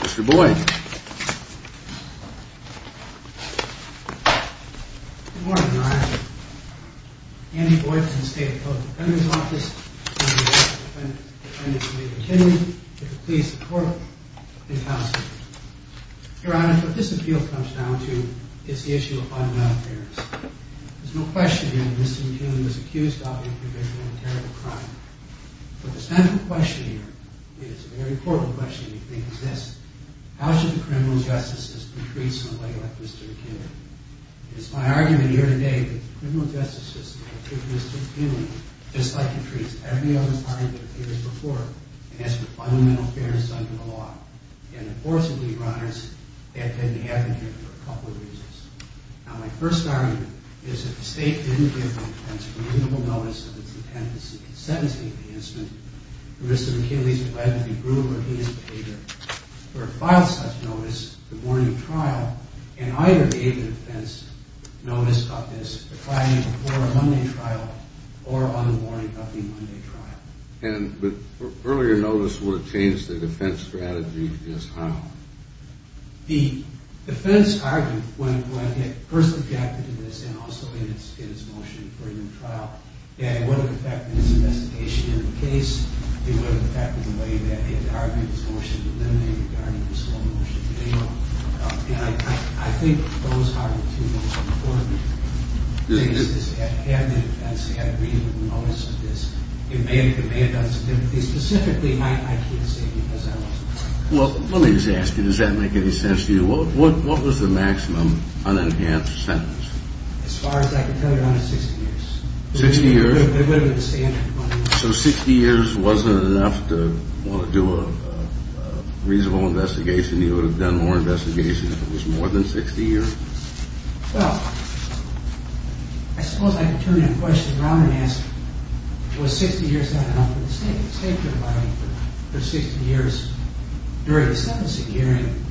Mr. Boyd. Good morning, Your Honor. Andy Boyd from the State Appellate Defendant's Office. Your Honor, what this appeal comes down to is the issue of filing a complaint against the defendant. There's no question here that Mr. McKinley was accused of a provisional and terrible crime. But the central question here, and it's a very portable question, I think, is this. How should the criminal justice system treat somebody like Mr. McKinley? It's my argument here today that the criminal justice system should treat Mr. McKinley just like it treats every other client that appears before him, and that's with fundamental fairness under the law. And, of course, the lead runners have been the advocate for a couple of reasons. Now, my first argument is that if the State didn't give the defense reasonable notice of its intent in sentencing the incident, Mr. McKinley's allegedly brutal or heinous behavior would have filed such notice the morning of trial, and either gave the defense notice of this before a Monday trial or on the morning of the Monday trial. But earlier notice would have changed the defense strategy just how? The defense argued when it first objected to this and also in its motion for a new trial, it would have affected its investigation of the case. It would have affected the way that it argued its motion to eliminate regarding the slow motion bailout. And I think those are the two most important things, is to have the defense have reasonable notice of this. It may have done something, but specifically, I can't say because I wasn't there. Well, let me just ask you, does that make any sense to you? What was the maximum unenhanced sentence? As far as I can tell, Your Honor, 60 years. 60 years? It would have been standard. So 60 years wasn't enough to want to do a reasonable investigation? You would have done more investigation if it was more than 60 years? Well, I suppose I can turn that question around and ask, was 60 years not enough for the state? The state provided for 60 years during the sentencing hearing,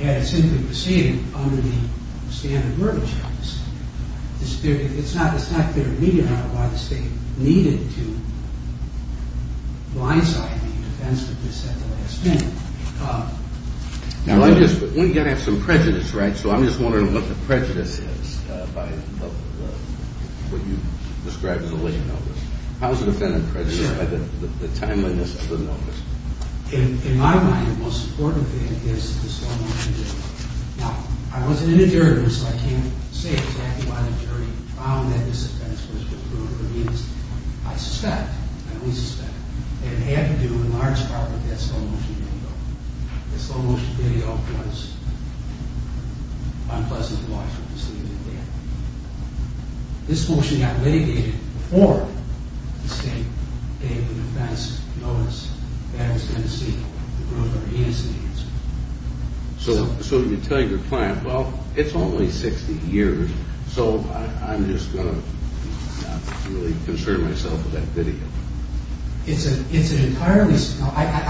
and it simply proceeded under the standard verbiage of the state. It's not clear to me, Your Honor, why the state needed to blindside the defense of this at the last minute. Now, you've got to have some prejudice, right? So I'm just wondering what the prejudice is by what you described as a late notice. How is the defendant prejudiced by the timeliness of the notice? In my mind, the most important thing is the slow motion bailout. Now, I wasn't in the jury, so I can't say exactly why the jury found that this offense was disproved. I suspect, and we suspect, that it had to do in large part with that slow motion bailout. That slow motion bailout was unpleasant to watch. This motion got litigated before the state gave the defense notice that it was going to see the broader innocence. So you tell your client, well, it's only 60 years, so I'm just going to really concern myself with that video. I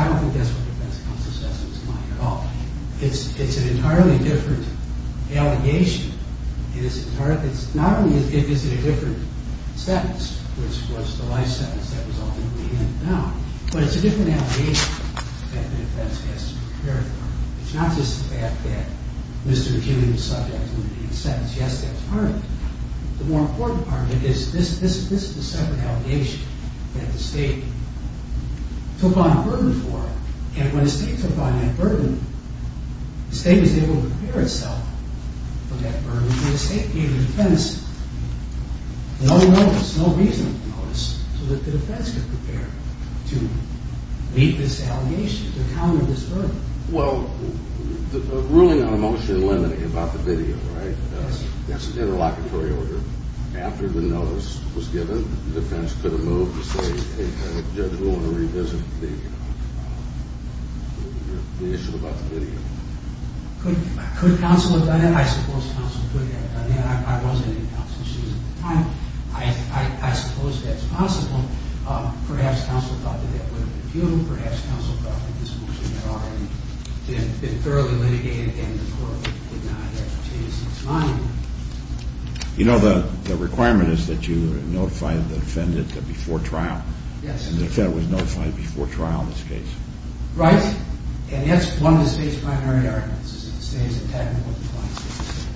don't think that's what the defense counsel says in his mind at all. It's an entirely different allegation. Not only is it a different sentence, which was the life sentence that was ultimately handed down, but it's a different allegation that the defense has to prepare for. It's not just the fact that Mr. McKibben was subject to the sentence. Yes, that's part of it. The more important part of it is this is a separate allegation that the state took on burden for, and when the state took on that burden, the state was able to prepare itself for that burden. The state gave the defense no notice, no reasonable notice, so that the defense could prepare to meet this allegation, to counter this burden. Well, the ruling on a motion limiting about the video, right? That's an interlocutory order. After the notice was given, the defense could have moved to say, hey, the judge will want to revisit the issue about the video. Could counsel have done that? I suppose counsel could have done that. I wasn't in counsel's shoes at the time. I suppose that's possible. Perhaps counsel thought that that would have been futile. Perhaps counsel thought that this motion had already been thoroughly litigated and the court would not have changed its mind. You know, the requirement is that you notify the defendant before trial. Yes. And the defendant was notified before trial in this case. Right. And that's one of the state's primary arguments, is that the state has a technical compliance system.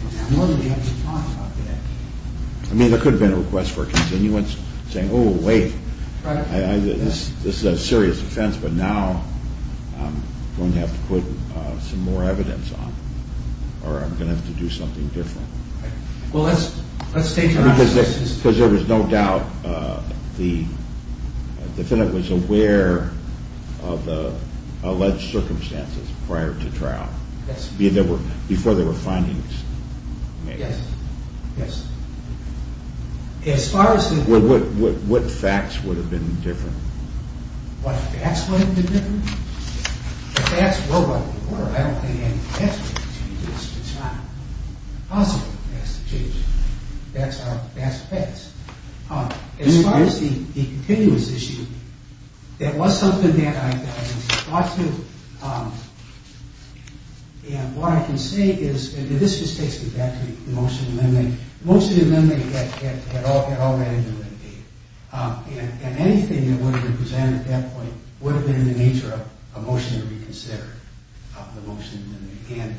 I mean, there could have been a request for a continuance, saying, oh, wait, this is a serious offense, but now I'm going to have to put some more evidence on it, or I'm going to have to do something different. Well, let's stay true to that. Because there was no doubt the defendant was aware of the alleged circumstances prior to trial. Yes. Before there were findings made. Yes. Yes. As far as the… What facts would have been different? What facts would have been different? The facts were what they were. I don't think any facts would have changed this. It's not possible for facts to change. Facts are facts. As far as the continuance issue, it was something that I thought to, and what I can say is, and this just takes me back to the motion amendment. The motion amendment had already been litigated. And anything that would have been presented at that point would have been in the nature of a motion to reconsider. And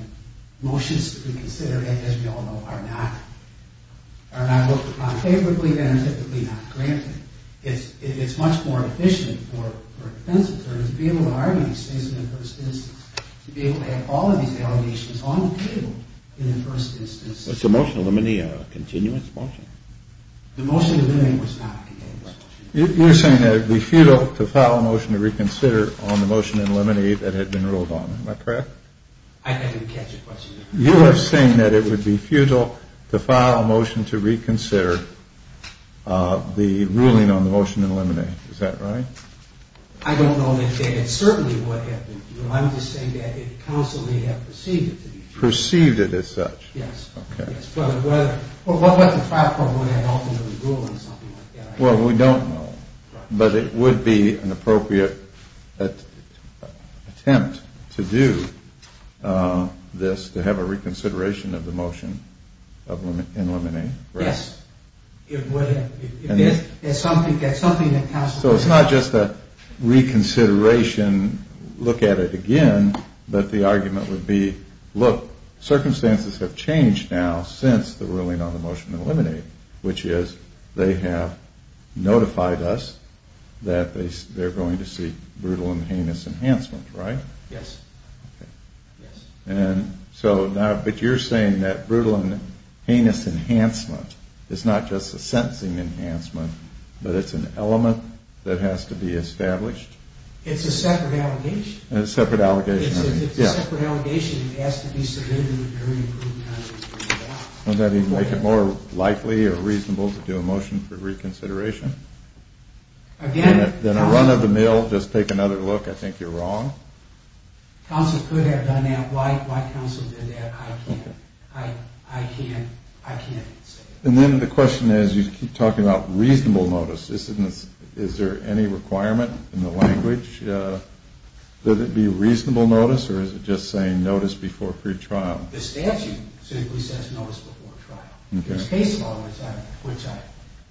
motions to reconsider, as we all know, are not looked upon favorably and are typically not granted. It's much more efficient for a defense attorney to be able to argue these things in the first instance. To be able to have all of these allegations on the table in the first instance. Was the motion to eliminate a continuance motion? The motion to eliminate was not a continuance motion. You're saying that it would be futile to file a motion to reconsider on the motion to eliminate that had been ruled on. Am I correct? I didn't catch your question. You are saying that it would be futile to file a motion to reconsider the ruling on the motion to eliminate. Is that right? I don't know. It certainly would have been. I'm just saying that it constantly would have perceived it to be futile. Perceived it as such? Yes. Okay. Or what would the trial court have ultimately ruled on something like that? Well, we don't know. But it would be an appropriate attempt to do this, to have a reconsideration of the motion to eliminate. Yes. It would have. So it's not just a reconsideration, look at it again, but the argument would be, look, circumstances have changed. Now, since the ruling on the motion to eliminate, which is they have notified us that they're going to seek brutal and heinous enhancement, right? Yes. Okay. Yes. And so now, but you're saying that brutal and heinous enhancement is not just a sentencing enhancement, but it's an element that has to be established? It's a separate allegation. A separate allegation. Yes. It's a separate allegation that has to be submitted in a very improved manner. Would that make it more likely or reasonable to do a motion for reconsideration? Again... Then a run of the mill, just take another look, I think you're wrong. Counsel could have done that. Why counsel did that, I can't say. And then the question is, you keep talking about reasonable notice. Is there any requirement in the language that it be reasonable notice, or is it just saying notice before pretrial? The statute simply says notice before trial. Okay. There's case law, which I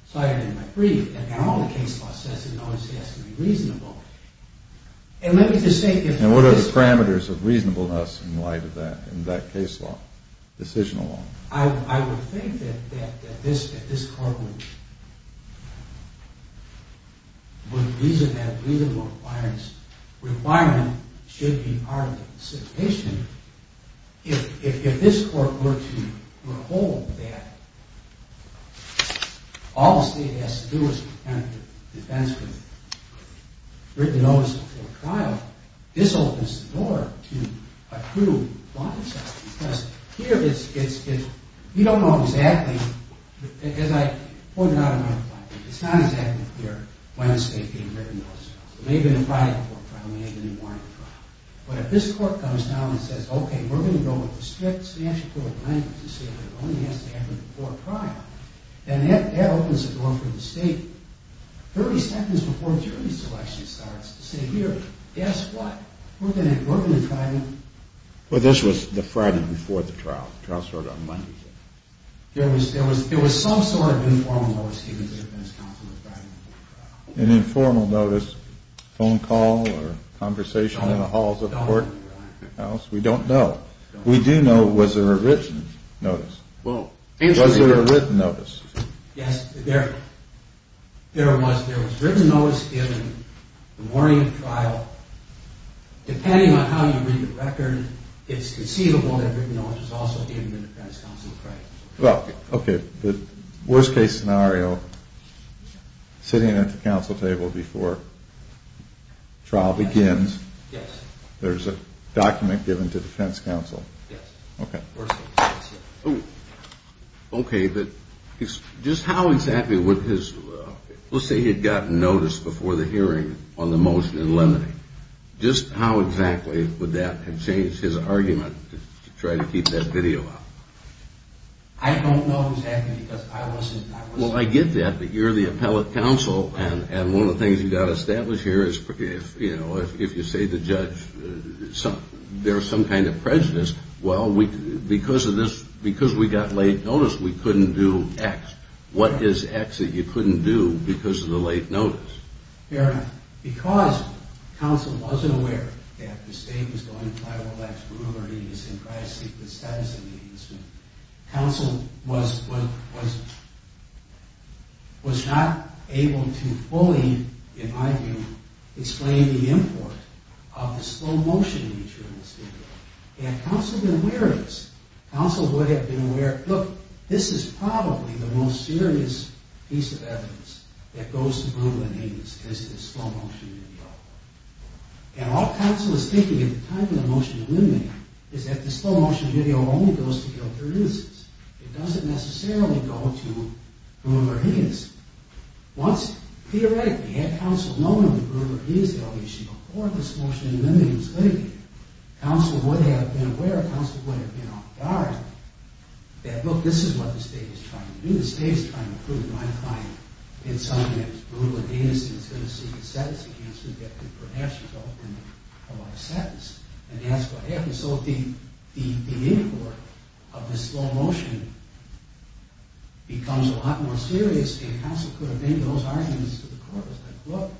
cited in my brief, and now the case law says that notice has to be reasonable. And let me just say... And what are the parameters of reasonableness in light of that, in that case law, decisional law? I would think that this court would reason that a reasonable requirement should be part of the solicitation. If this court were to withhold that, all the state has to do is pretend the defense was written notice before trial, this opens the door to a true bond adjustment. Because here it's... We don't know exactly, as I pointed out in my reply, it's not exactly clear when the state had written notice before trial. It may have been a Friday before trial, it may have been a Monday before trial. But if this court comes down and says, okay, we're going to go with the strict financial court language to say that it only has to happen before trial, and that opens the door for the state 30 seconds before jury selection starts to say, here, guess what? We're going to try to... Well, this was the Friday before the trial. The trial started on Monday. There was some sort of informal notice given to the defense counsel the Friday before trial. An informal notice, phone call or conversation in the halls of the courthouse, we don't know. We do know, was there a written notice? Was there a written notice? Yes, there was. There was written notice given the morning of trial. Depending on how you read the record, it's conceivable that written notice was also given to the defense counsel Friday. Well, okay, the worst case scenario, sitting at the counsel table before trial begins, there's a document given to defense counsel. Yes. Okay. Okay, but just how exactly would his... Let's say he had gotten notice before the hearing on the motion in Lemony. Just how exactly would that have changed his argument to try to keep that video up? I don't know exactly because I wasn't... Well, I get that, but you're the appellate counsel, and one of the things you've got to establish here is, you know, if you say to the judge there's some kind of prejudice, well, because we got late notice, we couldn't do X. What is X that you couldn't do because of the late notice? Fair enough. Because counsel wasn't aware that the state was going to try to relax brutal and heinous and try to seek the status of the heinous, counsel was not able to fully, in my view, explain the import of the slow motion nature of this video, and counsel would have been aware of this. So, this is probably the most serious piece of evidence that goes to brutal and heinous, is the slow motion video. And all counsel is thinking at the time of the motion in Lemony is that the slow motion video only goes to guilty witnesses. It doesn't necessarily go to whomever he is. Once, theoretically, had counsel known of the brutal or heinous allegation before this motion in Lemony was litigated, counsel would have been aware, counsel would have been on guard that, look, this is what the state is trying to do. The state is trying to prove my client did something that was brutal and heinous and is going to seek a sentence against him that could perhaps result in a life sentence, and that's what happened. So, the import of the slow motion becomes a lot more serious, and counsel could have made those arguments to the court. Look,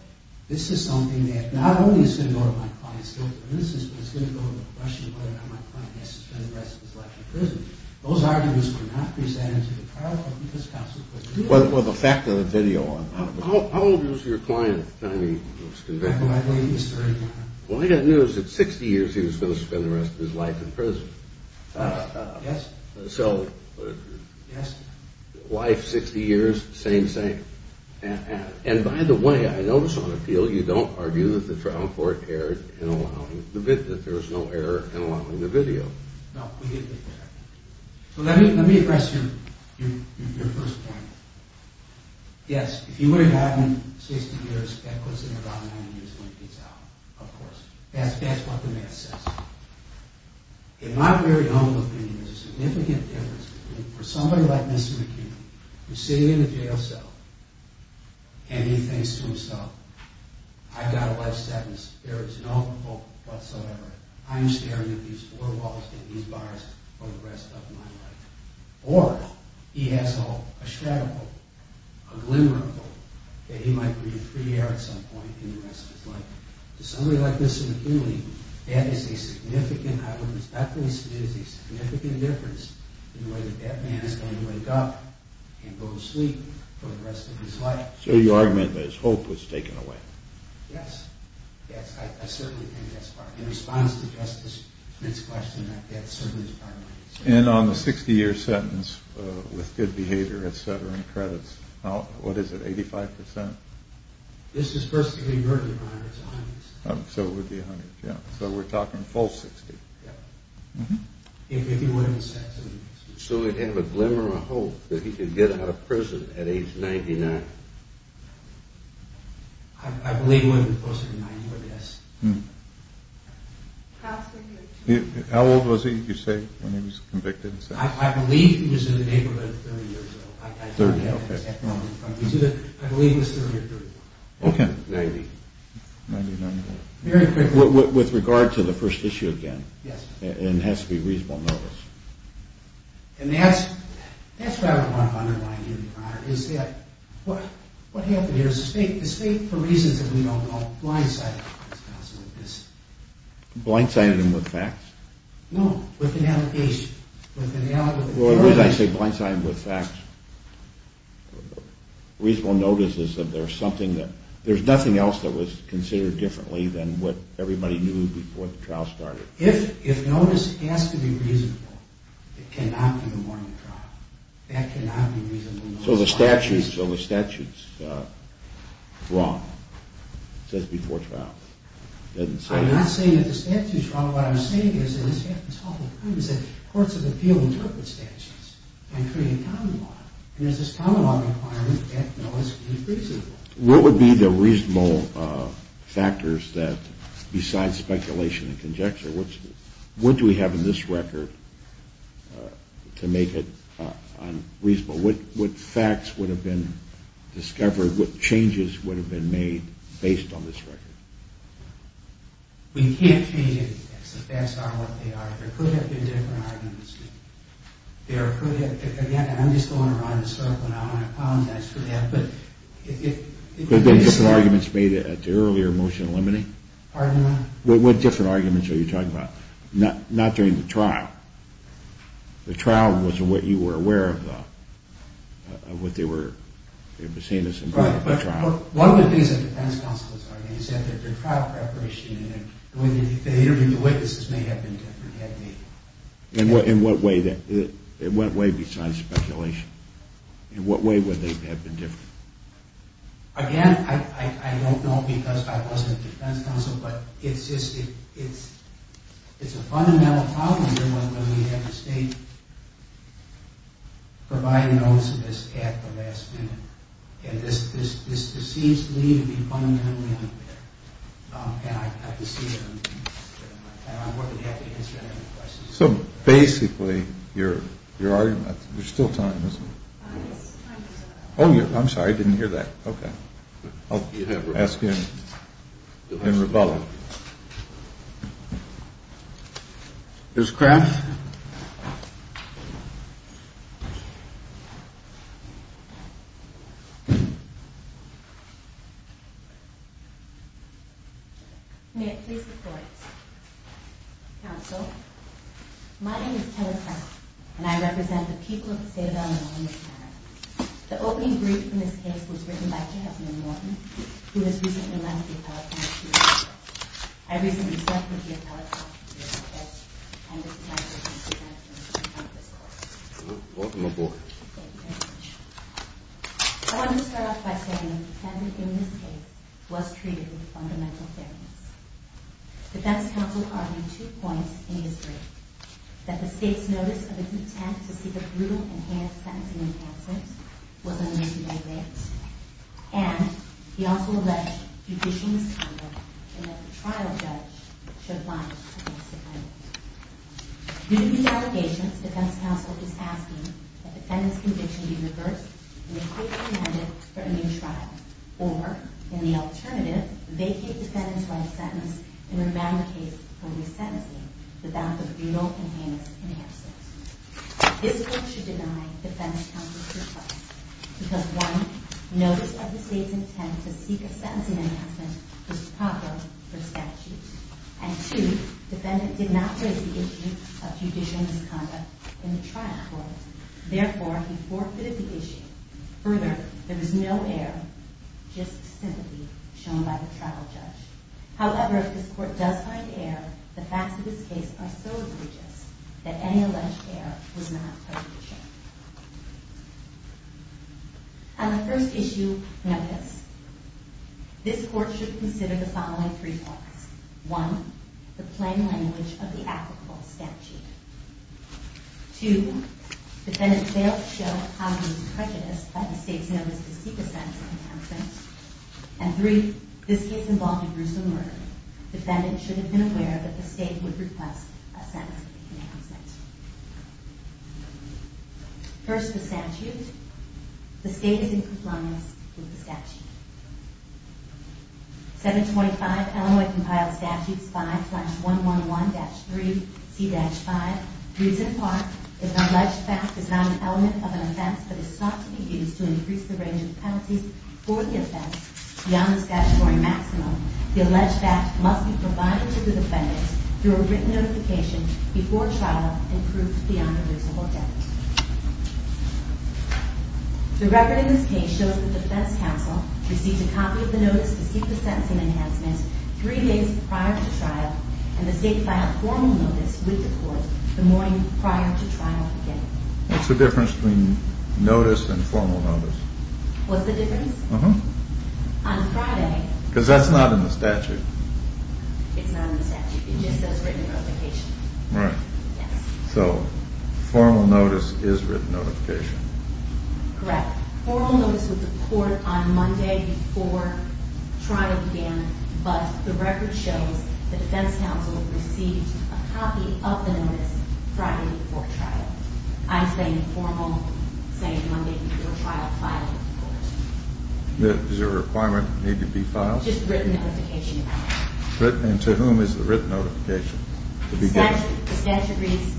this is something that not only is going to go to my client's guilty witnesses, but it's going to go to the question of whether or not my client has to spend the rest of his life in prison. Those arguments were not presented to the trial court because counsel could do it. Well, the fact of the video, I mean. How old was your client at the time he was convicted? I believe he was 31. Well, I got news that 60 years he was going to spend the rest of his life in prison. Yes. So, wife 60 years, same thing. And, by the way, I noticed on the field you don't argue that the trial court erred in allowing the video. No, we didn't do that. Let me address your first point. Yes, if he would have gotten 60 years, that puts him around 90 years when he gets out, of course. That's what the math says. In my very own opinion, there's a significant difference between for somebody like Mr. McKinley, who's sitting in a jail cell, and he thinks to himself, I've got a life sentence, there is no hope whatsoever, I'm staring at these four walls and these bars for the rest of my life. Or, he has hope, a shatter hope, a glimmer of hope, that he might breathe free air at some point in the rest of his life. To somebody like Mr. McKinley, that is a significant difference in the way that man is going to wake up and go to sleep for the rest of his life. So, you're arguing that his hope was taken away. Yes, I certainly think that's part of it. In response to Justice Flint's question, that certainly is part of it. And on the 60 year sentence, with good behavior, et cetera, and credits, what is it, 85%? This is first degree murder, Your Honor, it's 100%. So, it would be 100%, yeah. So, we're talking full 60. Yeah. If he wouldn't sentence. So, he'd have a glimmer of hope that he could get out of prison at age 99. I believe when he was closer to 90, yes. How old was he, you say, when he was convicted? I believe he was in the neighborhood 30 years ago. 30, okay. I believe he was 30 or 30. Okay. 90. Very quickly. With regard to the first issue again. Yes. And it has to be reasonable notice. And that's what I want to underline here, Your Honor, is that what happened here is the state, for reasons that we don't know, blindsided him. Blindsided him with facts? No, with an allegation, with an allegation. Well, it is, I say, blindsided him with facts. Reasonable notice is that there's something that, there's nothing else that was considered differently than what everybody knew before the trial started. If notice has to be reasonable, it cannot be the morning trial. That cannot be reasonable notice. So, the statute's wrong. It says before trial. I'm not saying that the statute's wrong. No, what I'm saying is, and this happens all the time, is that courts of appeal interpret statutes and create common law. And there's this common law requirement that notice be reasonable. What would be the reasonable factors that, besides speculation and conjecture, what do we have in this record to make it reasonable? What facts would have been discovered, what changes would have been made based on this record? We can't change the facts on what they are. There could have been different arguments. There could have, again, I'm just going around the circle now, and I apologize for that. Could there have been different arguments made at the earlier motion limiting? Pardon me? What different arguments are you talking about? Not during the trial. The trial was what you were aware of, though. Of what they were seeing as important at the trial. One of the things that defense counsels argue is that their trial preparation and the way they interviewed the witnesses may have been different at date. In what way besides speculation? In what way would they have been different? Again, I don't know because I wasn't a defense counsel, but it's a fundamental problem here when we have the state providing notice of this at the last minute. And this seems to me to be fundamentally unfair. And I have to see it. And I'm more than happy to answer any questions. So basically, your argument, there's still time, isn't there? Time is up. Oh, I'm sorry. I didn't hear that. Okay. I'll ask you in rebuttal. Ms. Craft? May it please the court. Counsel, my name is Taylor Craft, and I represent the people of the state of Illinois in this matter. The opening brief in this case was written by J. Edmund Norton, who has recently left the appellate office. I recently left the appellate office, and this is my first presentation on this court. Welcome aboard. Thank you very much. I want to start off by saying that the defendant in this case was treated with fundamental fairness. The defense counsel argued two points in his brief. That the state's notice of its intent to seek a brutal enhanced sentencing enhancement was unnecessary, and he also alleged judicial misconduct and that the trial judge should lodge a misdemeanor. Due to these allegations, the defense counsel is asking that the defendant's conviction be reversed and a case be amended for a new trial, or, in the alternative, vacate the defendant's life sentence and rebound the case for resentencing without the brutal enhancements. This court should deny defense counsel's request because, one, notice of the state's intent to seek a sentencing enhancement was proper for statute, and, two, defendant did not raise the issue of judicial misconduct in the trial court. Therefore, he forfeited the issue. Further, there is no error, just sympathy shown by the trial judge. However, if this court does find error, the facts of this case are so egregious that any alleged error was not prejudicial. On the first issue, notice. This court should consider the following three points. One, the plain language of the applicable statute. Two, defendant failed to show obvious prejudice by the state's notice to seek a sentencing enhancement. And three, this case involved a gruesome murder. Defendant should have been aware that the state would request a sentencing enhancement. First, the statute. The state is in compliance with the statute. 725 Illinois Compiled Statutes 5-111-3C-5 reads in part, If an alleged fact is not an element of an offense but is sought to be used to increase the range of penalties for the offense beyond the statutory maximum, the alleged fact must be provided to the defendant through a written notification before trial and proved beyond a reasonable doubt. The record of this case shows that the defense counsel received a copy of the notice to seek the sentencing enhancement three days prior to trial and the state filed formal notice with the court the morning prior to trial beginning. What's the difference between notice and formal notice? What's the difference? Uh-huh. On Friday... Because that's not in the statute. It's not in the statute. It just says written notification. Right. Yes. So formal notice is written notification. Correct. Formal notice with the court on Monday before trial began, but the record shows the defense counsel received a copy of the notice Friday before trial. I'm saying formal, saying Monday before trial, filed with the court. Does your requirement need to be filed? Just written notification. And to whom is the written notification? The statute reads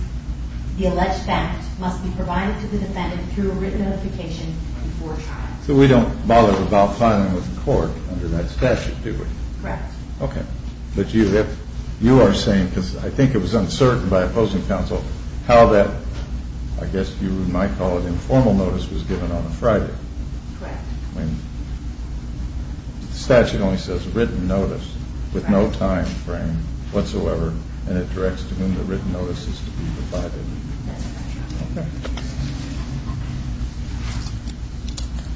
the alleged fact must be provided to the defendant through a written notification before trial. So we don't bother about filing with the court under that statute, do we? Correct. Okay. But you are saying, because I think it was uncertain by opposing counsel how that, I guess you might call it informal notice, was given on a Friday. Correct. I mean, the statute only says written notice with no time frame whatsoever, and it directs to whom the written notice is to be provided. That's right. Okay.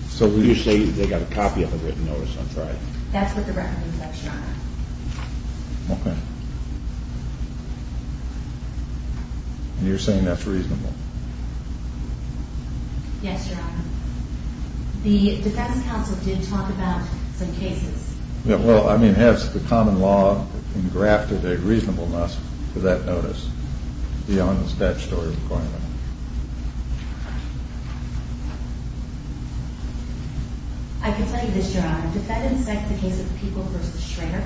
So will you say they got a copy of the written notice on Friday? That's what the record says, Your Honor. Okay. And you're saying that's reasonable? Yes, Your Honor. The defense counsel did talk about some cases. Yeah, well, I mean, has the common law engrafted a reasonableness to that notice beyond the statutory requirement? I can tell you this, Your Honor. Defendants cite the case of the Peoples v. Schrader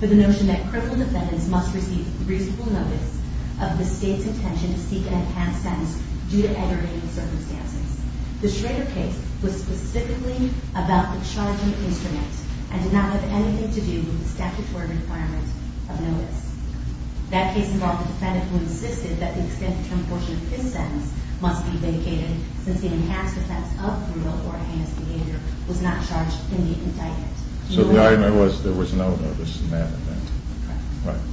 for the notion that criminal defendants must receive reasonable notice of the state's intention to seek an enhanced sentence due to aggravating circumstances. The Schrader case was specifically about the charging instrument and did not have anything to do with the statutory requirement of notice. That case involved a defendant who insisted that the extended term portion of his sentence must be vindicated since the enhanced offense of brutal or heinous behavior was not charged in the indictment. So the argument was there was no notice in that event? Correct. Right.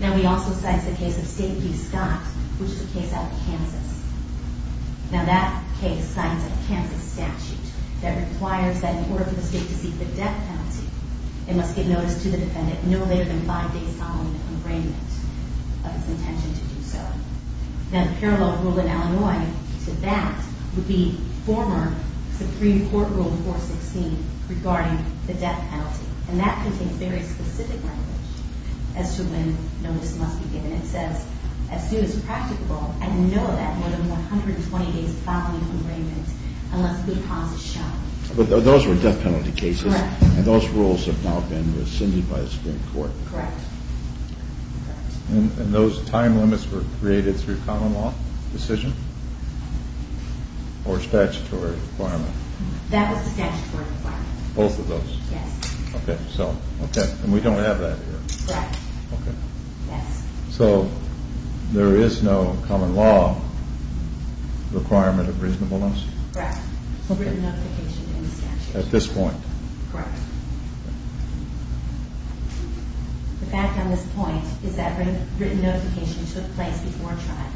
Now, we also cite the case of State v. Scott, which is a case out of Kansas. Now, that case cites a Kansas statute that requires that in order for the state to seek the death penalty, it must give notice to the defendant no later than five days following the engravement of its intention to do so. Now, the parallel rule in Illinois to that would be former Supreme Court Rule 416 regarding the death penalty. And that contains very specific language as to when notice must be given. And it says, as soon as practicable, and know that more than 120 days following engravement unless good cause is shown. But those were death penalty cases. Correct. And those rules have now been rescinded by the Supreme Court. Correct. And those time limits were created through common law decision or statutory requirement? That was the statutory requirement. Both of those? Yes. Okay. And we don't have that here. Correct. Okay. Yes. So there is no common law requirement of reasonableness? Correct. Written notification in the statute. At this point? Correct. The fact on this point is that written notification took place before trial.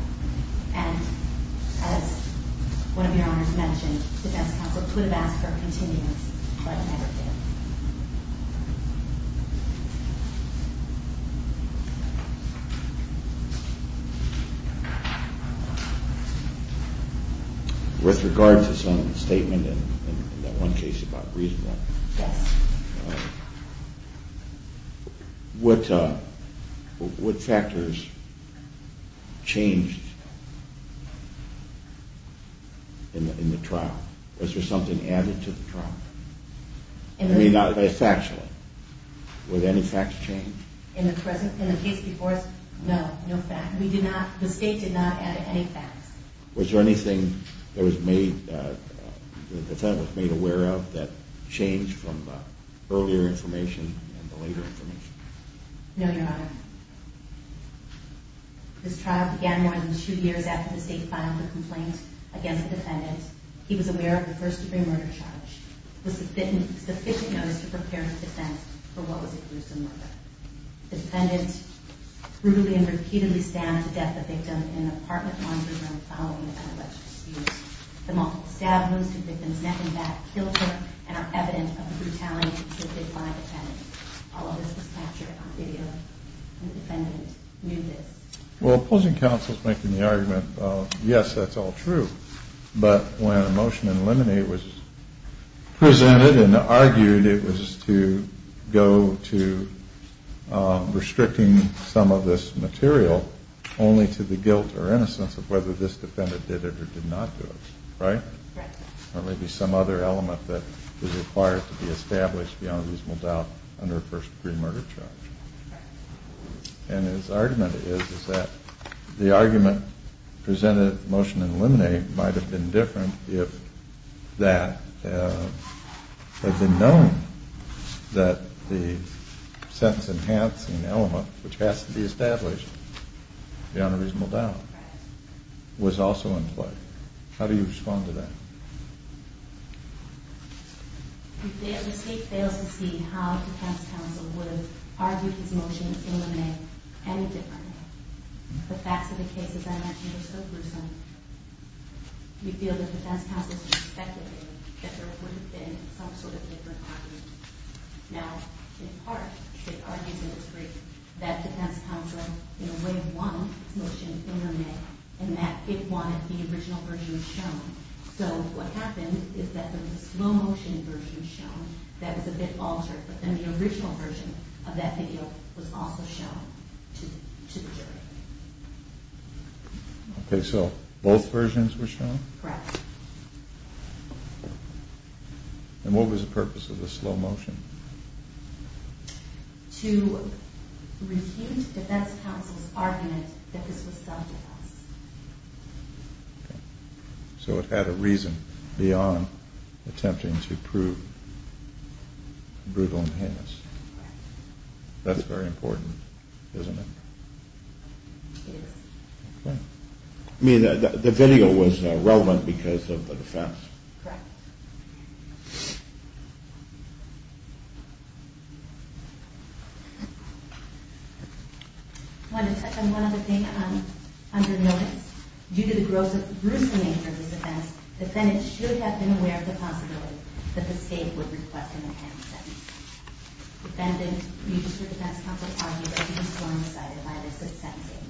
And as one of your honors mentioned, defense counsel could have asked for a continuous but never did. With regard to some statement in that one case about reasonableness. Yes. What factors changed in the trial? Was there something added to the trial? I mean factually. Were there any facts changed? In the case before us, no. No facts. We did not, the state did not add any facts. Was there anything that the defendant was made aware of that changed from the earlier information and the later information? No, your honor. This trial began more than two years after the state filed the complaint against the defendant. He was aware of the first degree murder charge. There was sufficient notice to prepare the defense for what was a gruesome murder. The defendant brutally and repeatedly stabbed the death of the victim in an apartment laundry room following the alleged abuse. The multiple stab wounds to the victim's neck and back killed her and are evident of the brutality inflicted by the defendant. All of this was captured on video. The defendant knew this. Well, opposing counsel is making the argument, yes, that's all true. But when a motion to eliminate was presented and argued, it was to go to restricting some of this material only to the guilt or innocence of whether this defendant did it or did not do it. Right? There may be some other element that is required to be established beyond reasonable doubt under a first degree murder charge. And his argument is that the argument presented motion to eliminate might have been different if that had been known that the sentence enhancing element, which has to be established beyond a reasonable doubt, was also in play. How do you respond to that? The state fails to see how defense counsel would have argued his motion to eliminate any different. The facts of the case, as I mentioned, are so gruesome. We feel that defense counsel should have speculated that there would have been some sort of different argument. Now, in part, it argues in its brief that defense counsel, in a way, won his motion to eliminate and that it won if the original version was shown. So what happened is that there was a slow motion version shown that was a bit altered, but then the original version of that video was also shown to the jury. Okay, so both versions were shown? Correct. And what was the purpose of the slow motion? To refute defense counsel's argument that this was self-defense. Okay, so it had a reason beyond attempting to prove brutal and heinous. Correct. That's very important, isn't it? Yes. Okay. I mean, the video was relevant because of the defense. Correct. One other thing under notice. Due to the gruesome nature of this offense, defendants should have been aware of the possibility that the state would request an appending sentence. Defendants used for defense counsel argued that he was going to be cited by this absentee.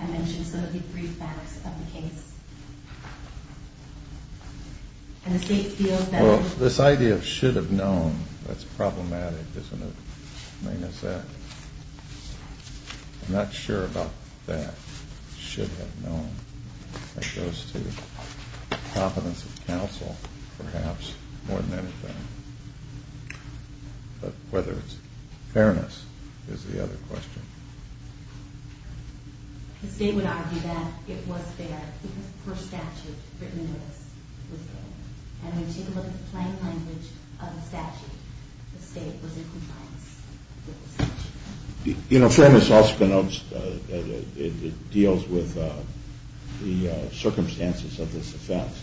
I mentioned some of the brief facts of the case. Well, this idea of should have known, that's problematic, isn't it? I'm not sure about that, should have known. It goes to the competence of counsel, perhaps, more than anything. But whether it's fairness is the other question. The state would argue that it was fair because the first statute written into this was fair. And when you take a look at the plain language of the statute, the state was in compliance with the statute. You know, fairness also denotes, it deals with the circumstances of this offense.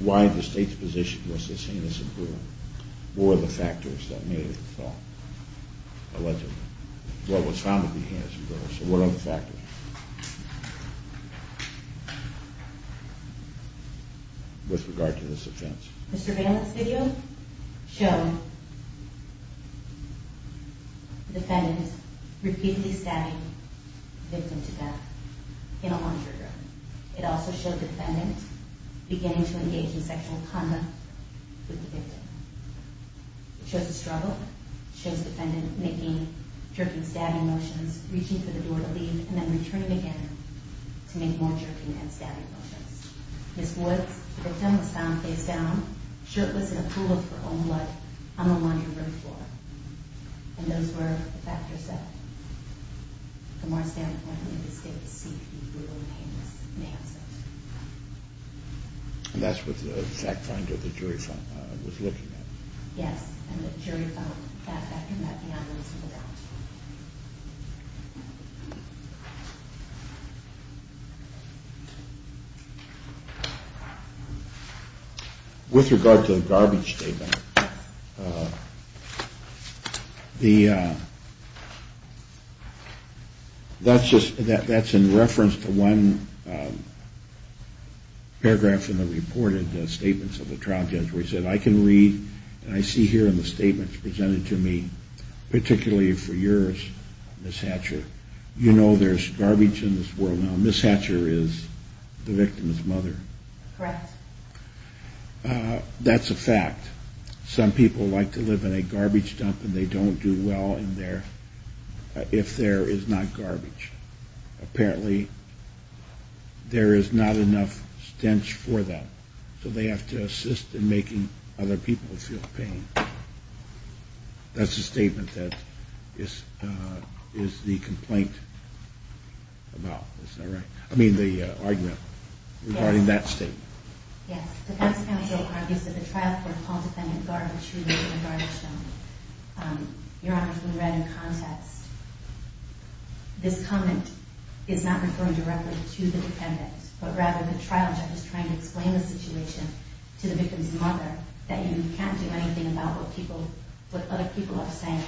Why the state's position was this heinous and brutal. What were the factors that made it so allegedly? What was found to be heinous and brutal. So what are the factors with regard to this offense? The surveillance video showed defendants repeatedly stabbing the victim to death in a laundry room. It also showed the defendant beginning to engage in sexual conduct with the victim. It shows the struggle. It shows the defendant making jerking, stabbing motions, reaching for the door to leave, and then returning again to make more jerking and stabbing motions. Ms. Woods, the victim was found face down, shirtless in a pool of her own blood, on the laundry room floor. And those were the factors that, from our standpoint, made the state seem to be brutal and heinous. And that's what the fact finder, the jury found, was looking at. Yes, and the jury found that that could not be understood at all. With regard to the garbage statement, that's in reference to one paragraph in the reported statements of the trial judge where he said, I can read, and I see here in the statements presented to me, particularly for yours, Ms. Hatcher, you know there's garbage in this world. Now, Ms. Hatcher is the victim's mother. Correct. That's a fact. Some people like to live in a garbage dump and they don't do well in there if there is not garbage. Apparently, there is not enough stench for that, so they have to assist in making other people feel pain. That's the statement that is the complaint about. Is that right? I mean the argument regarding that statement. Yes. The defense counsel argues that the trial court called the defendant garbage-shooting in a garbage dump. Your Honor, if you read in context, this comment is not referring directly to the defendant, but rather the trial judge is trying to explain the situation to the victim's mother, that you can't do anything about what other people are saying.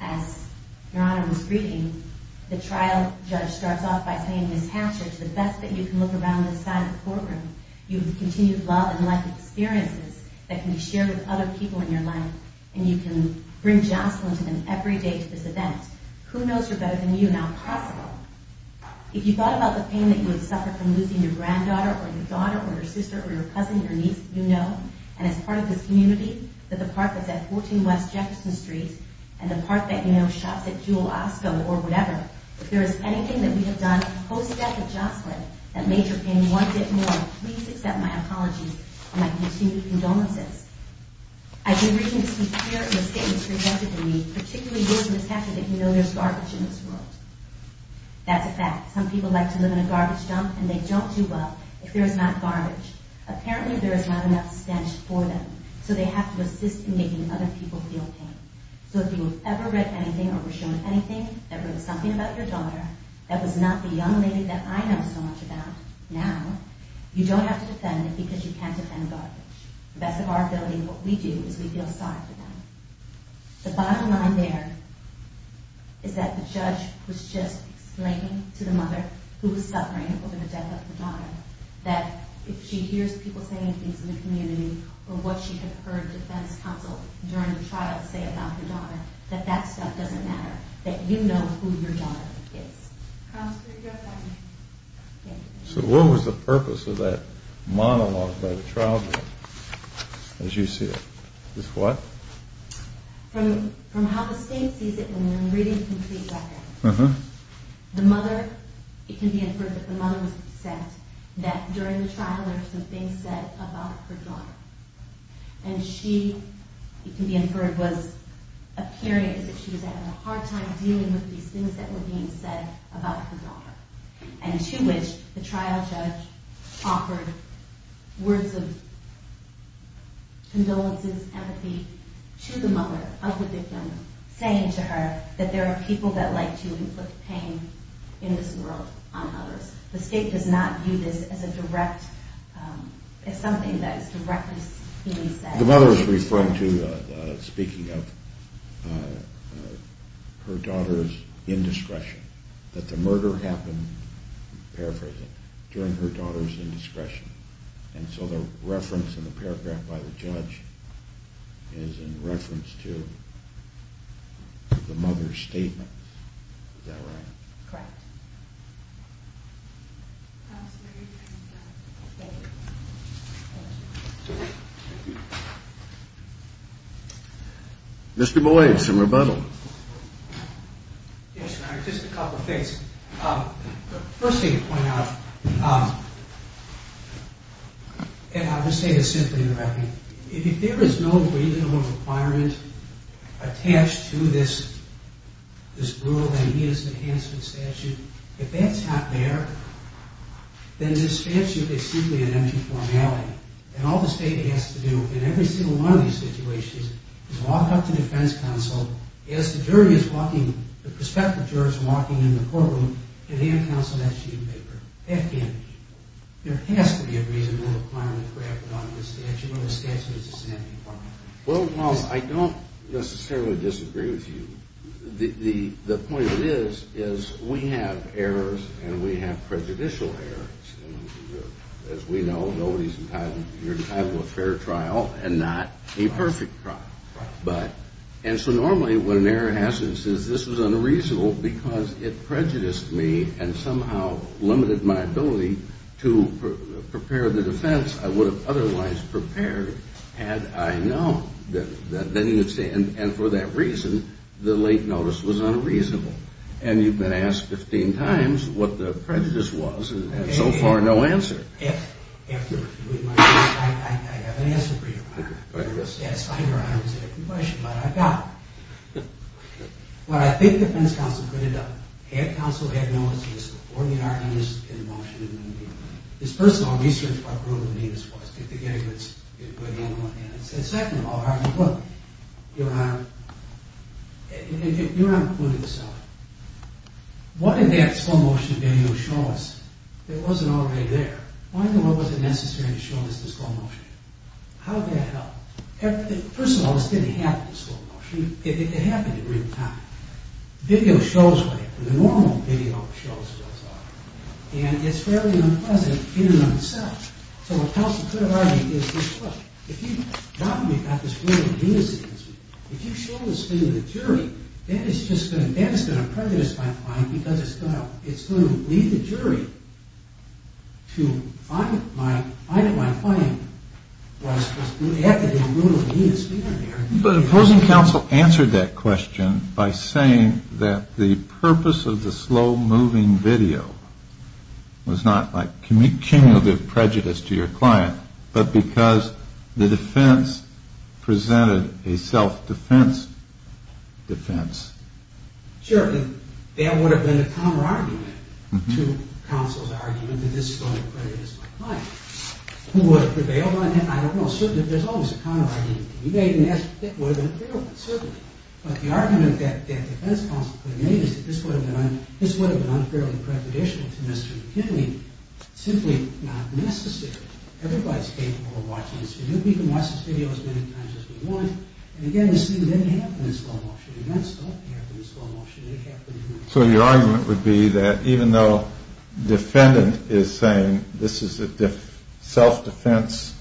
As Your Honor was reading, the trial judge starts off by saying, Ms. Hatcher, to the best that you can look around this side of the courtroom, you have continued love and life experiences that can be shared with other people in your life, and you can bring jostling to them every day to this event. Who knows her better than you? Not possible. If you thought about the pain that you would suffer from losing your granddaughter or your daughter or your sister or your cousin, your niece, you know, and as part of this community, that the park that's at 14 West Jefferson Street and the park that you know shops at Jewel Osco or whatever, if there is anything that we have done post-death of Jocelyn that made your pain one bit more, please accept my apologies and my continued condolences. I've been reading the speech here and the statements presented to me, particularly yours, Ms. Hatcher, that you know there's garbage in this world. That's a fact. Some people like to live in a garbage dump, and they don't do well if there is not garbage. Apparently, there is not enough stench for them, so they have to assist in making other people feel pain. So if you have ever read anything or were shown anything that read something about your daughter that was not the young lady that I know so much about now, you don't have to defend it because you can't defend garbage. At the best of our ability, what we do is we feel sorry for them. The bottom line there is that the judge was just explaining to the mother who was suffering over the death of her daughter, that if she hears people saying things in the community or what she had heard defense counsel during the trial say about her daughter, that that stuff doesn't matter, that you know who your daughter is. So what was the purpose of that monologue by the trial judge as you see it? From how the state sees it, and I'm reading the complete record, the mother, it can be inferred that the mother was upset that during the trial there were some things said about her daughter. And she, it can be inferred, was appearing that she was having a hard time dealing with these things that were being said about her daughter. And to which the trial judge offered words of condolences, empathy, to the mother of the victim, saying to her that there are people that like to inflict pain in this world on others. The state does not view this as a direct, as something that is directly being said. The mother is referring to, speaking of her daughter's indiscretion. That the murder happened, paraphrasing, during her daughter's indiscretion. And so the reference in the paragraph by the judge is in reference to the mother's statement. Is that right? Correct. Mr. Boyd, some rebuttal. Yes, just a couple of things. First thing to point out, and I'll just say this simply and directly. If there is no reasonable requirement attached to this rule, that it is an enhancement statute, if that's not there, then this statute is simply an empty formality. And all the state has to do in every single one of these situations is walk up to defense counsel, as the jury is walking, the prospective jurors walking in the courtroom, and hand counsel that sheet of paper. There has to be a reasonable requirement crafted on this statute, or the statute is just an empty formality. Well, I don't necessarily disagree with you. The point of this is we have errors and we have prejudicial errors. As we know, nobody's entitled, you're entitled to a fair trial and not a perfect trial. And so normally when an error happens, it says this was unreasonable because it prejudiced me and somehow limited my ability to prepare the defense I would have otherwise prepared had I known. And for that reason, the late notice was unreasonable. And you've been asked 15 times what the prejudice was and so far no answer. I have an answer for you, Your Honor. Yes, I know I'm asking a question, but I've got one. Well, I think the defense counsel could have done it. Had counsel had noticed this before the argument was in motion, his personal research would have proven what this was. And second of all, Your Honor, you're not including yourself. What did that slow motion video show us? It wasn't already there. Why was it necessary to show us the slow motion? How did that help? First of all, this didn't happen in slow motion. It happened in real time. The video shows what it, the normal video shows what it's like. And it's fairly unpleasant in and of itself. So what counsel could have argued is this. Look, if you've gotten me about this ruin of leniency, if you show this thing to the jury, that is just going to prejudice my client because it's going to lead the jury to find that my client was at the damn ruin of leniency. But opposing counsel answered that question by saying that the purpose of the slow moving video was not like cumulative prejudice to your client, but because the defense presented a self-defense defense. Sure. That would have been a counter argument to counsel's argument that this is going to prejudice my client. Who would have prevailed on that? I don't know. Certainly, there's always a counter argument. It would have been a fair one, certainly. But the argument that defense counsel could have made is that this would have been unfairly prejudicial to Mr. McKinley. Simply not necessary. Everybody's capable of watching this video. We can watch this video as many times as we want. And again, this didn't happen in slow motion. Events don't happen in slow motion. They happen in real time. So your argument would be that even though defendant is saying this is a self-defense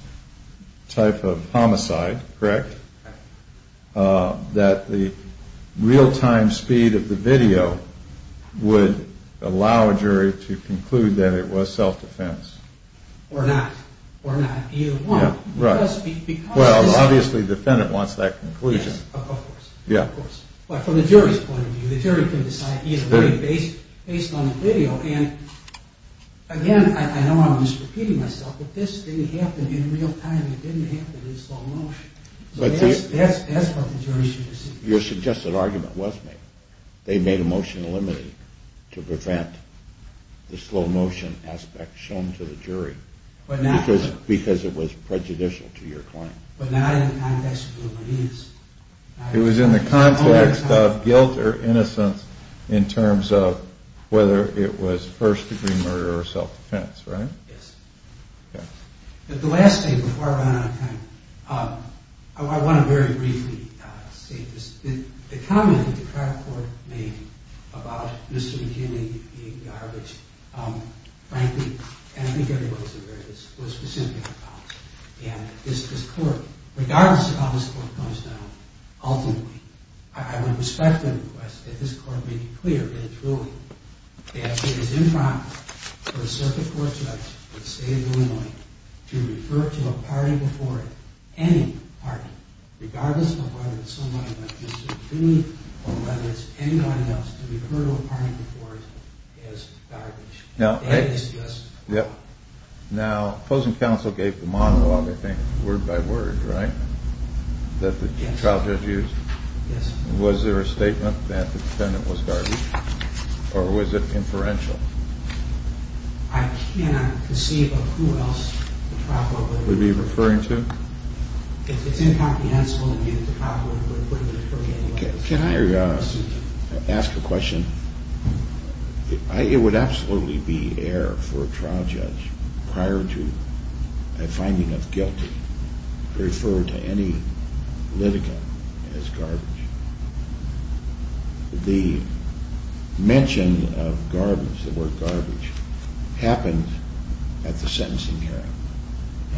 type of homicide, correct? Correct. That the real time speed of the video would allow a jury to conclude that it was self-defense. Or not. Or not. Either one. Right. Well, obviously defendant wants that conclusion. Yes, of course. Yeah. Well, from the jury's point of view, the jury can decide either way based on the video. And again, I know I'm misrepeating myself, but this didn't happen in real time. It didn't happen in slow motion. So that's what the jury should have seen. Your suggested argument was made. They made a motion to eliminate to prevent the slow motion aspect shown to the jury. Because it was prejudicial to your claim. But not in the context of the evidence. It was in the context of guilt or innocence in terms of whether it was first degree murder or self-defense, right? Yes. Okay. The last thing before I run out of time, I want to very briefly state this. The comment that the trial court made about Mr. McKinney being garbage, frankly, and I think everybody was aware of this, was specific about it. And this court, regardless of how this court comes down, ultimately, I would respect the request that this court make it clear that it's ruling that it is impromptu for a circuit court judge in the state of Illinois to refer to a party before it, any party, regardless of whether it's someone like Mr. McKinney or whether it's anyone else, to refer to a party before it as garbage. Now opposing counsel gave the monologue, I think, word by word, right? That the trial judge used? Yes. Was there a statement that the defendant was garbage? Or was it inferential? I cannot conceive of who else the trial court would refer to. Would it be referring to? If it's incomprehensible, it would be the trial court would refer to it. Can I ask a question? It would absolutely be error for a trial judge prior to a finding of guilty to refer to any litigant as garbage. The mention of garbage, the word garbage, happened at the sentencing hearing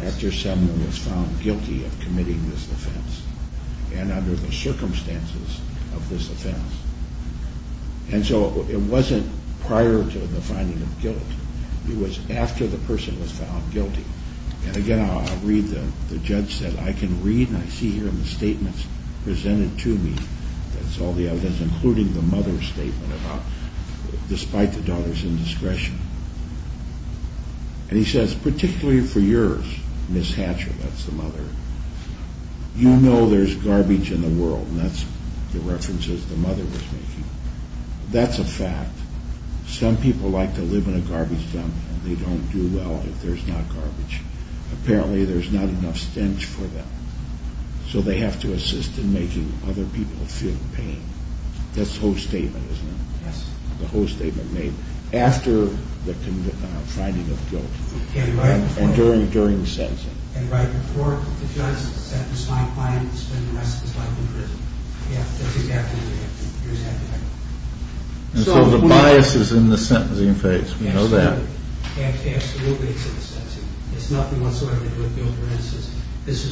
after someone was found guilty of committing this offense. And under the circumstances of this offense. And so it wasn't prior to the finding of guilt. It was after the person was found guilty. And again, I'll read the judge said, I can read and I see here in the statements presented to me, that's all the evidence, including the mother's statement about despite the daughter's indiscretion. And he says, particularly for yours, Ms. Hatcher, that's the mother, you know there's garbage in the world. And that's the references the mother was making. That's a fact. Some people like to live in a garbage dump and they don't do well if there's not garbage. Apparently there's not enough stench for them. So they have to assist in making other people feel pain. That's the whole statement, isn't it? Yes. The whole statement made. After the finding of guilt. And right before. And during the sentencing. And right before the judge sentenced my client to spend the rest of his life in prison. Yes, that's exactly what it is. And so the bias is in the sentencing phase. We know that. Absolutely. It's nothing whatsoever to do with guilt or innocence. This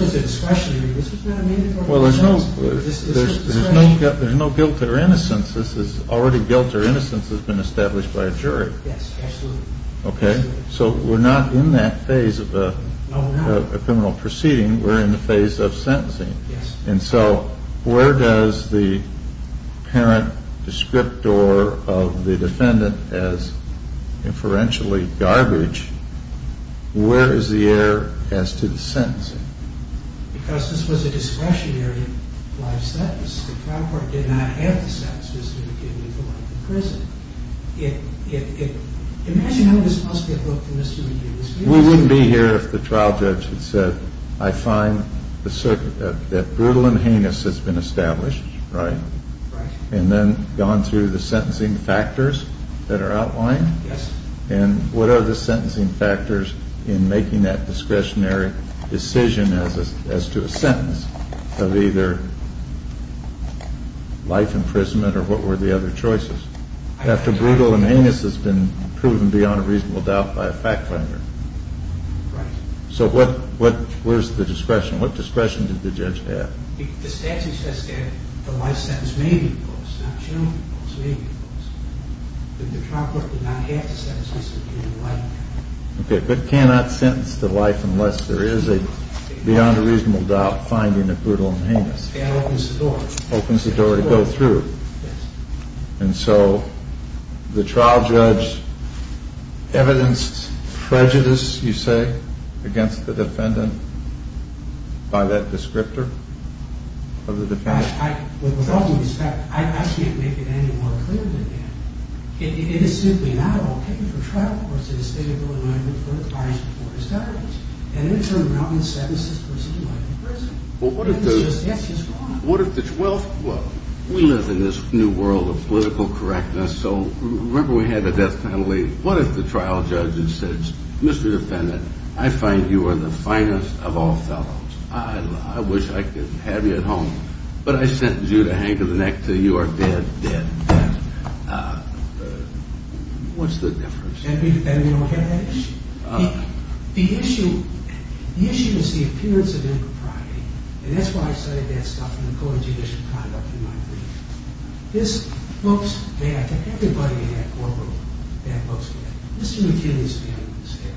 was discretionary. This was not made before. Well, there's no guilt or innocence. Already guilt or innocence has been established by a jury. Yes, absolutely. Okay. So we're not in that phase of a criminal proceeding. We're in the phase of sentencing. And so where does the parent descriptor of the defendant as inferentially garbage, where is the error as to the sentencing? Because this was a discretionary life sentence. The trial court did not have the sentences that would give you the right to prison. Imagine how this must have looked to Mr. McGinnis. We wouldn't be here if the trial judge had said, I find that brutal and heinous has been established. Right? Right. And then gone through the sentencing factors that are outlined. Yes. And what are the sentencing factors in making that discretionary decision as to a sentence of either life imprisonment or what were the other choices? After brutal and heinous has been proven beyond a reasonable doubt by a fact finder. Right. So where's the discretion? What discretion did the judge have? The statute says that the life sentence may be imposed, not shall be imposed, may be imposed. But the trial court did not have the sentences that would give you the right. Okay. But cannot sentence to life unless there is a beyond a reasonable doubt finding of brutal and heinous. That opens the door. Opens the door to go through. Yes. And so the trial judge evidenced prejudice, you say, against the defendant by that descriptor of the defendant? I can't make it any more clear than that. It is simply not okay for trial courts in the state of Illinois to put a charge before a judge. And in turn, not to sentence this person to life in prison. Yes, it's wrong. In the world of political correctness, so remember we had the death penalty. What if the trial judge had said, Mr. Defendant, I find you are the finest of all fellows. I wish I could have you at home. But I sentence you to hang to the neck until you are dead, dead, dead. What's the difference? Then we don't have that issue. The issue is the appearance of impropriety. And that's why I said that stuff in the court of judicial conduct in my brief. This looks bad to everybody in that courtroom. That looks bad. Mr. McKinley's family was there.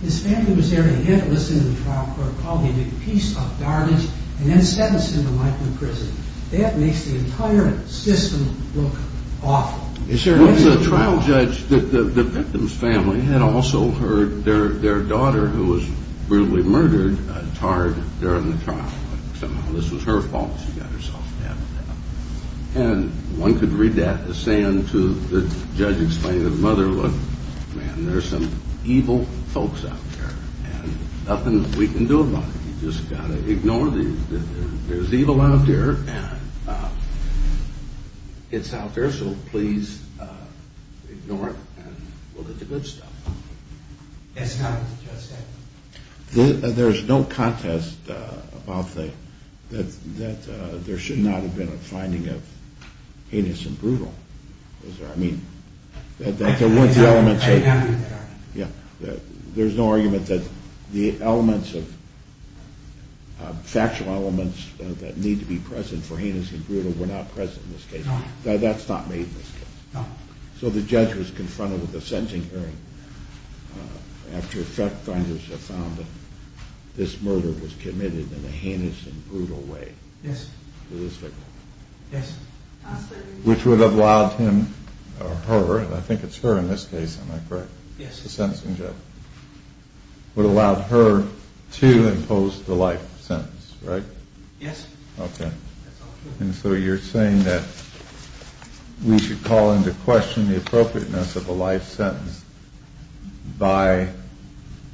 His family was there and he had to listen to the trial court call. He did a piece of garbage and then sentenced him to life in prison. That makes the entire system look awful. Once the trial judge, the victim's family had also heard their daughter, who was brutally murdered, tarred during the trial. Somehow this was her fault. She got herself stabbed. And one could read that as saying to the judge explaining to the mother, look, man, there's some evil folks out there. And nothing we can do about it. You just got to ignore these. There's evil out there. It's out there, so please ignore it and look at the good stuff. That's not what the judge said. There's no contest about that there should not have been a finding of heinous and brutal. I mean, that there weren't the elements of it. There's no argument that the elements of factual elements that need to be present for heinous and brutal were not present in this case. No. That's not made in this case. No. So the judge was confronted with a sentencing hearing after fact finders had found that this murder was committed in a heinous and brutal way. Yes. To this victim. Yes. Which would have allowed him or her, and I think it's her in this case, am I correct? Yes. The sentencing judge. Would have allowed her to impose the life sentence, right? Yes. Okay. And so you're saying that we should call into question the appropriateness of a life sentence by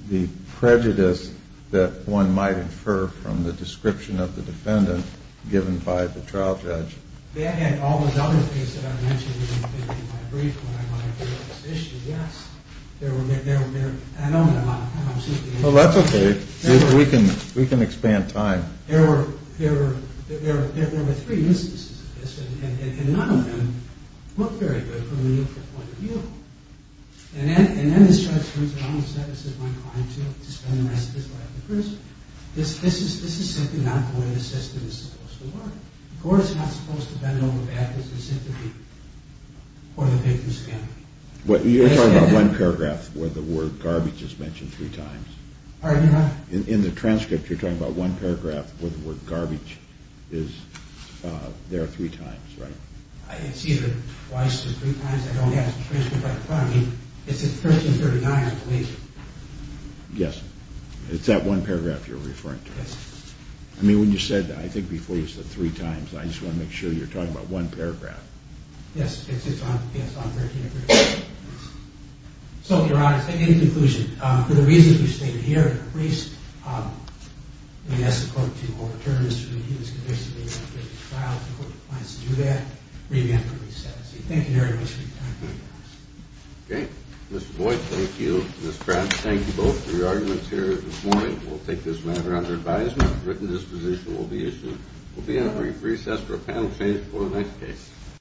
the prejudice that one might infer from the description of the defendant given by the trial judge. Yeah, and all those other things that I mentioned in my brief when I went over this issue, yes. There were, there were, I don't know. Well, that's okay. We can expand time. There were, there were, there were three instances of this, and none of them look very good from the neutral point of view. And then the judge turns around and says, this is my client here to spend the rest of his life in prison. This is simply not the way the system is supposed to work. The court is not supposed to bend over backwards. It's simply for the victim's family. You're talking about one paragraph where the word garbage is mentioned three times. Are you not? In the transcript, you're talking about one paragraph where the word garbage is there three times, right? I didn't see it twice or three times. I don't have the transcript right in front of me. It's in 1339, I believe. Yes. It's that one paragraph you're referring to. Yes. I mean, when you said, I think before you said three times, I just want to make sure you're talking about one paragraph. Yes, it's on 1339. So, Your Honor, in conclusion, for the reasons we've stated here, if the police may ask the court to overturn this review, this could basically be a trial. If the court plans to do that, re-enact the recess. Thank you very much for your time. Okay. Mr. Boyd, thank you. Ms. Pratt, thank you both for your arguments here this morning. We'll take this matter under advisement. A written disposition will be issued. We'll be entering a recess for a panel change before the next case.